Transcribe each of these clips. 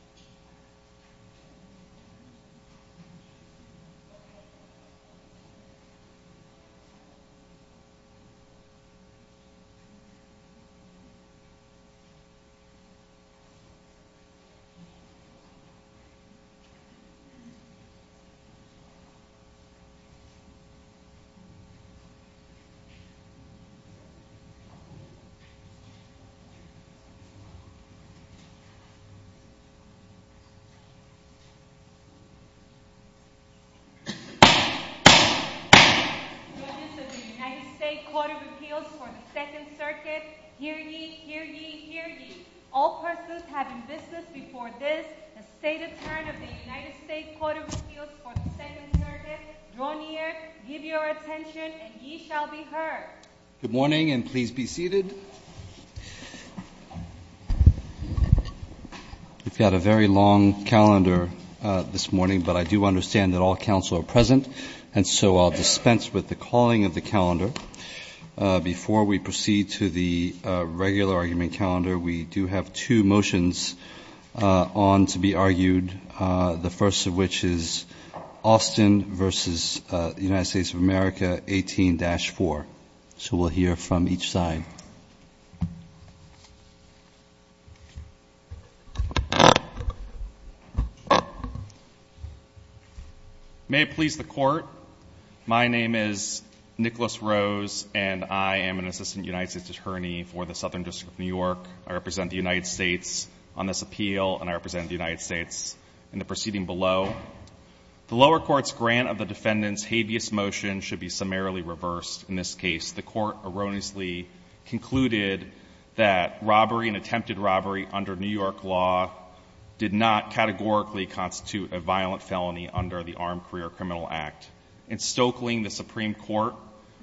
Okay. Okay. Okay. All persons having business before this, the State Attorney of the United States Court of Appeals for the Second Circuit, Droneer, give your attention and ye shall be heard. Good morning and please be seated. We've got a very long calendar this morning, but I do understand that all counsel are present, and so I'll dispense with the calling of the calendar. Before we proceed to the regular argument calendar, we do have two motions on to be referred to, so we'll hear from each side. May it please the Court, my name is Nicholas Rose, and I am an Assistant United States Attorney for the Southern District of New York. I represent the United States on this appeal, and I represent the United States in the proceeding below. The lower court's grant of the defendant's habeas motion should be summarily reversed. In this case, the Court erroneously concluded that robbery and attempted robbery under New York law did not categorically constitute a violent felony under the Armed Career Criminal Act. In Stoeckling, the Supreme Court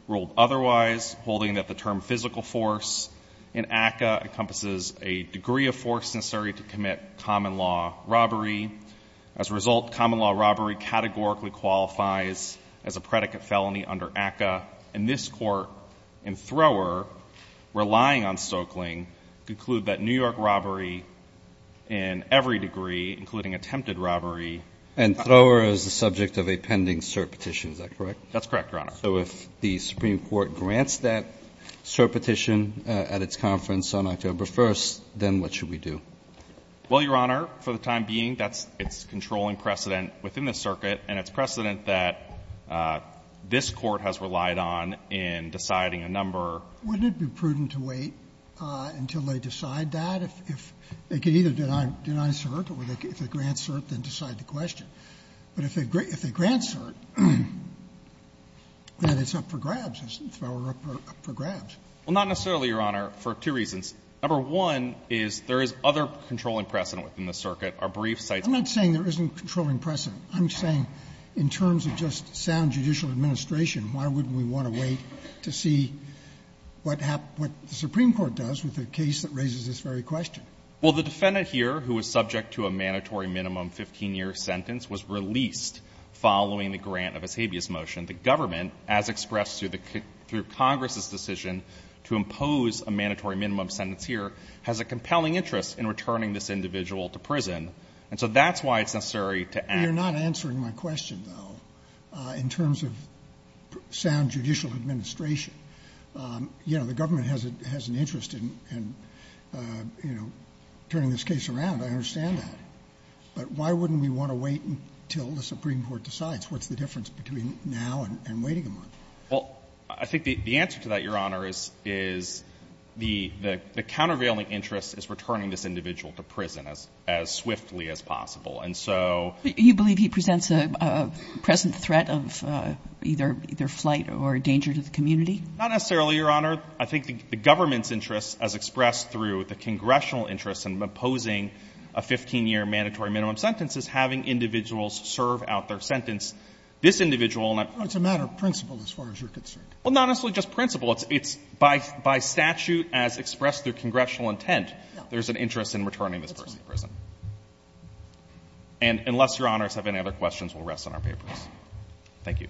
ruled otherwise, holding that the term physical force in ACCA encompasses a degree of force necessary to commit common law robbery. As a result, common law robbery categorically qualifies as a predicate felony under ACCA. And this Court, in Thrower, relying on Stoeckling, conclude that New York robbery in every degree, including attempted robbery — And Thrower is the subject of a pending cert petition, is that correct? That's correct, Your Honor. So if the Supreme Court grants that cert petition at its conference on October 1st, then what should we do? Well, Your Honor, for the time being, that's its controlling precedent within the circuit. And it's precedent that this Court has relied on in deciding a number. Wouldn't it be prudent to wait until they decide that? If they can either deny cert, or if they grant cert, then decide the question. But if they grant cert, then it's up for grabs, isn't it? Thrower up for grabs. Well, not necessarily, Your Honor, for two reasons. Number one is there is other controlling precedent within the circuit. Our brief cites — I'm not saying there isn't a controlling precedent. I'm saying in terms of just sound judicial administration, why wouldn't we want to wait to see what the Supreme Court does with a case that raises this very question? Well, the defendant here, who is subject to a mandatory minimum 15-year sentence, was released following the grant of a habeas motion. The government, as expressed through Congress's decision to impose a mandatory minimum sentence here, has a compelling interest in returning this individual to prison. And so that's why it's necessary to act. You're not answering my question, though, in terms of sound judicial administration. You know, the government has an interest in, you know, turning this case around. I understand that. But why wouldn't we want to wait until the Supreme Court decides? What's the difference between now and waiting a month? Well, I think the answer to that, Your Honor, is the countervailing interest is returning this individual to prison as swiftly as possible. And so — But you believe he presents a present threat of either flight or danger to the community? Not necessarily, Your Honor. I think the government's interest, as expressed through the congressional interest in imposing a 15-year mandatory minimum sentence, is having individuals serve out their sentence. This individual — Well, it's a matter of principle, as far as you're concerned. Well, not necessarily just principle. It's by statute, as expressed through congressional intent, there's an interest in returning this person to prison. And unless Your Honors have any other questions, we'll rest on our papers. Thank you.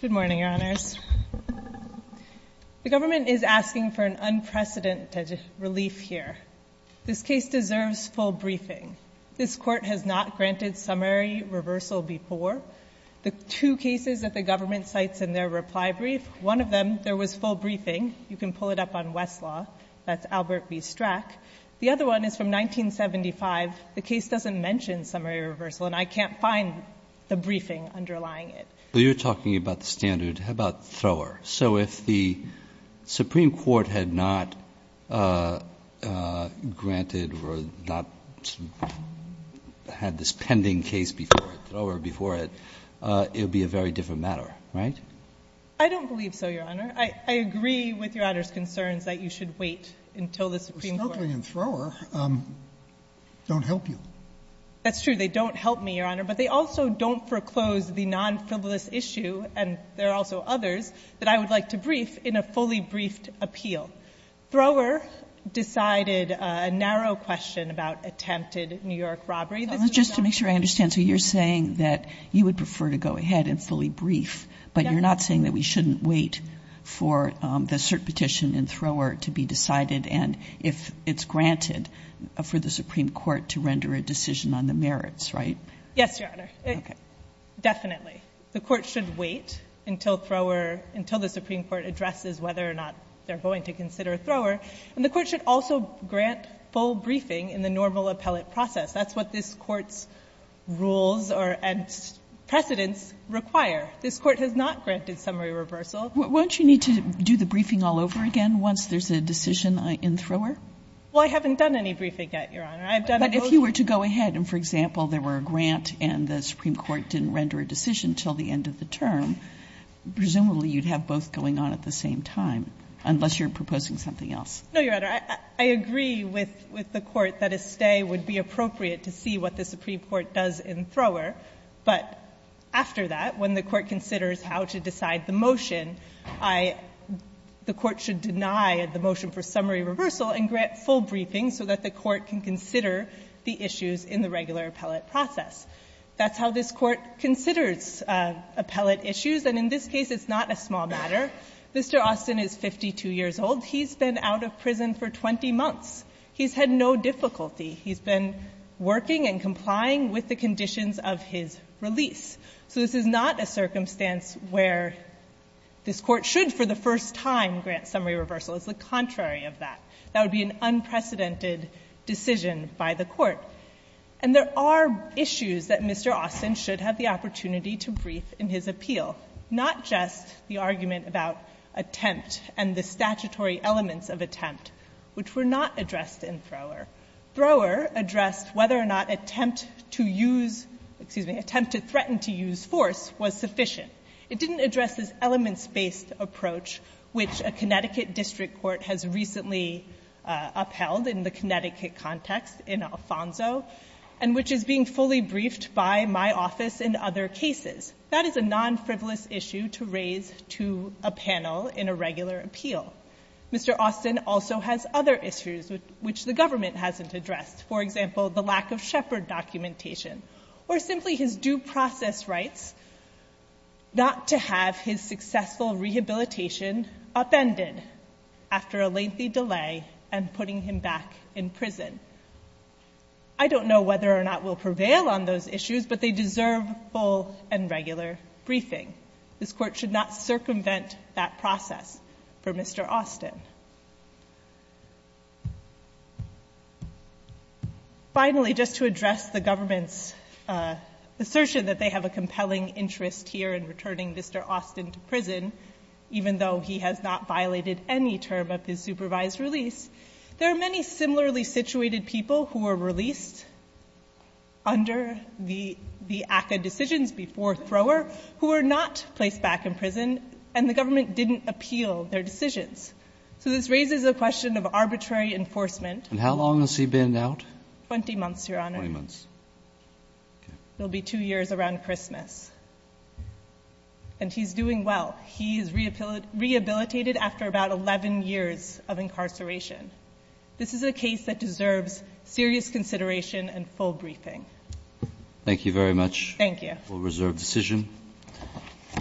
Good morning, Your Honors. The government is asking for an unprecedented relief here. This case deserves full briefing. This Court has not granted summary reversal before. The two cases that the government cites in their reply brief, one of them, there was full briefing. You can pull it up on Westlaw. That's Albert B. Strack. The other one is from 1975. The case doesn't mention summary reversal, and I can't find the briefing underlying it. Well, you're talking about the standard. How about thrower? So if the Supreme Court had not granted or not — had this pending case before it, thrower before it, it would be a very different matter, right? I don't believe so, Your Honor. I agree with Your Honor's concerns that you should wait until the Supreme Court — We're struggling in thrower. They don't help you. That's true. They don't help me, Your Honor. But they also don't foreclose the nonfrivolous issue, and there are also others that I would like to brief in a fully briefed appeal. Thrower decided a narrow question about attempted New York robbery. Just to make sure I understand. So you're saying that you would prefer to go ahead and fully brief, but you're not saying that we shouldn't wait for the cert petition in thrower to be decided and if it's granted for the Supreme Court to render a decision on the merits, right? Yes, Your Honor. Okay. Definitely. The Court should wait until thrower — until the Supreme Court addresses whether or not they're going to consider thrower. And the Court should also grant full briefing in the normal appellate process. That's what this Court's rules or — and precedents require. This Court has not granted summary reversal. Won't you need to do the briefing all over again once there's a decision in thrower? Well, I haven't done any briefing yet, Your Honor. I've done — But if you were to go ahead and, for example, there were a grant and the Supreme Court would wait until the end of the term, presumably you'd have both going on at the same time, unless you're proposing something else. No, Your Honor. I agree with the Court that a stay would be appropriate to see what the Supreme Court does in thrower, but after that, when the Court considers how to decide the motion, I — the Court should deny the motion for summary reversal and grant full briefing so that the Court can consider the issues in the regular appellate process. That's how this Court considers appellate issues. And in this case, it's not a small matter. Mr. Austin is 52 years old. He's been out of prison for 20 months. He's had no difficulty. He's been working and complying with the conditions of his release. So this is not a circumstance where this Court should, for the first time, grant summary reversal. It's the contrary of that. That would be an unprecedented decision by the Court. And there are issues that Mr. Austin should have the opportunity to brief in his appeal, not just the argument about attempt and the statutory elements of attempt, which were not addressed in thrower. Thrower addressed whether or not attempt to use — excuse me, attempt to threaten to use force was sufficient. It didn't address this elements-based approach, which a Connecticut district court has recently upheld in the Connecticut context in Alfonso, and which is being fully briefed by my office in other cases. That is a non-frivolous issue to raise to a panel in a regular appeal. Mr. Austin also has other issues which the government hasn't addressed, for example, the lack of Shepherd documentation, or simply his due process rights not to have his successful rehabilitation upended after a lengthy delay and putting him back in prison. I don't know whether or not we'll prevail on those issues, but they deserve full and regular briefing. This Court should not circumvent that process for Mr. Austin. Finally, just to address the government's assertion that they have a compelling interest here in returning Mr. Austin to prison, even though he has not violated any term of his supervised release, there are many similarly situated people who were released under the ACCA decisions before thrower who were not placed back in prison, and the government didn't appeal their decisions. So this raises a question of arbitrary enforcement. And how long has he been out? Twenty months, Your Honor. Twenty months. It will be two years around Christmas. And he's doing well. He is rehabilitated after about 11 years of incarceration. This is a case that deserves serious consideration and full briefing. Thank you very much. Thank you. We'll reserve decision.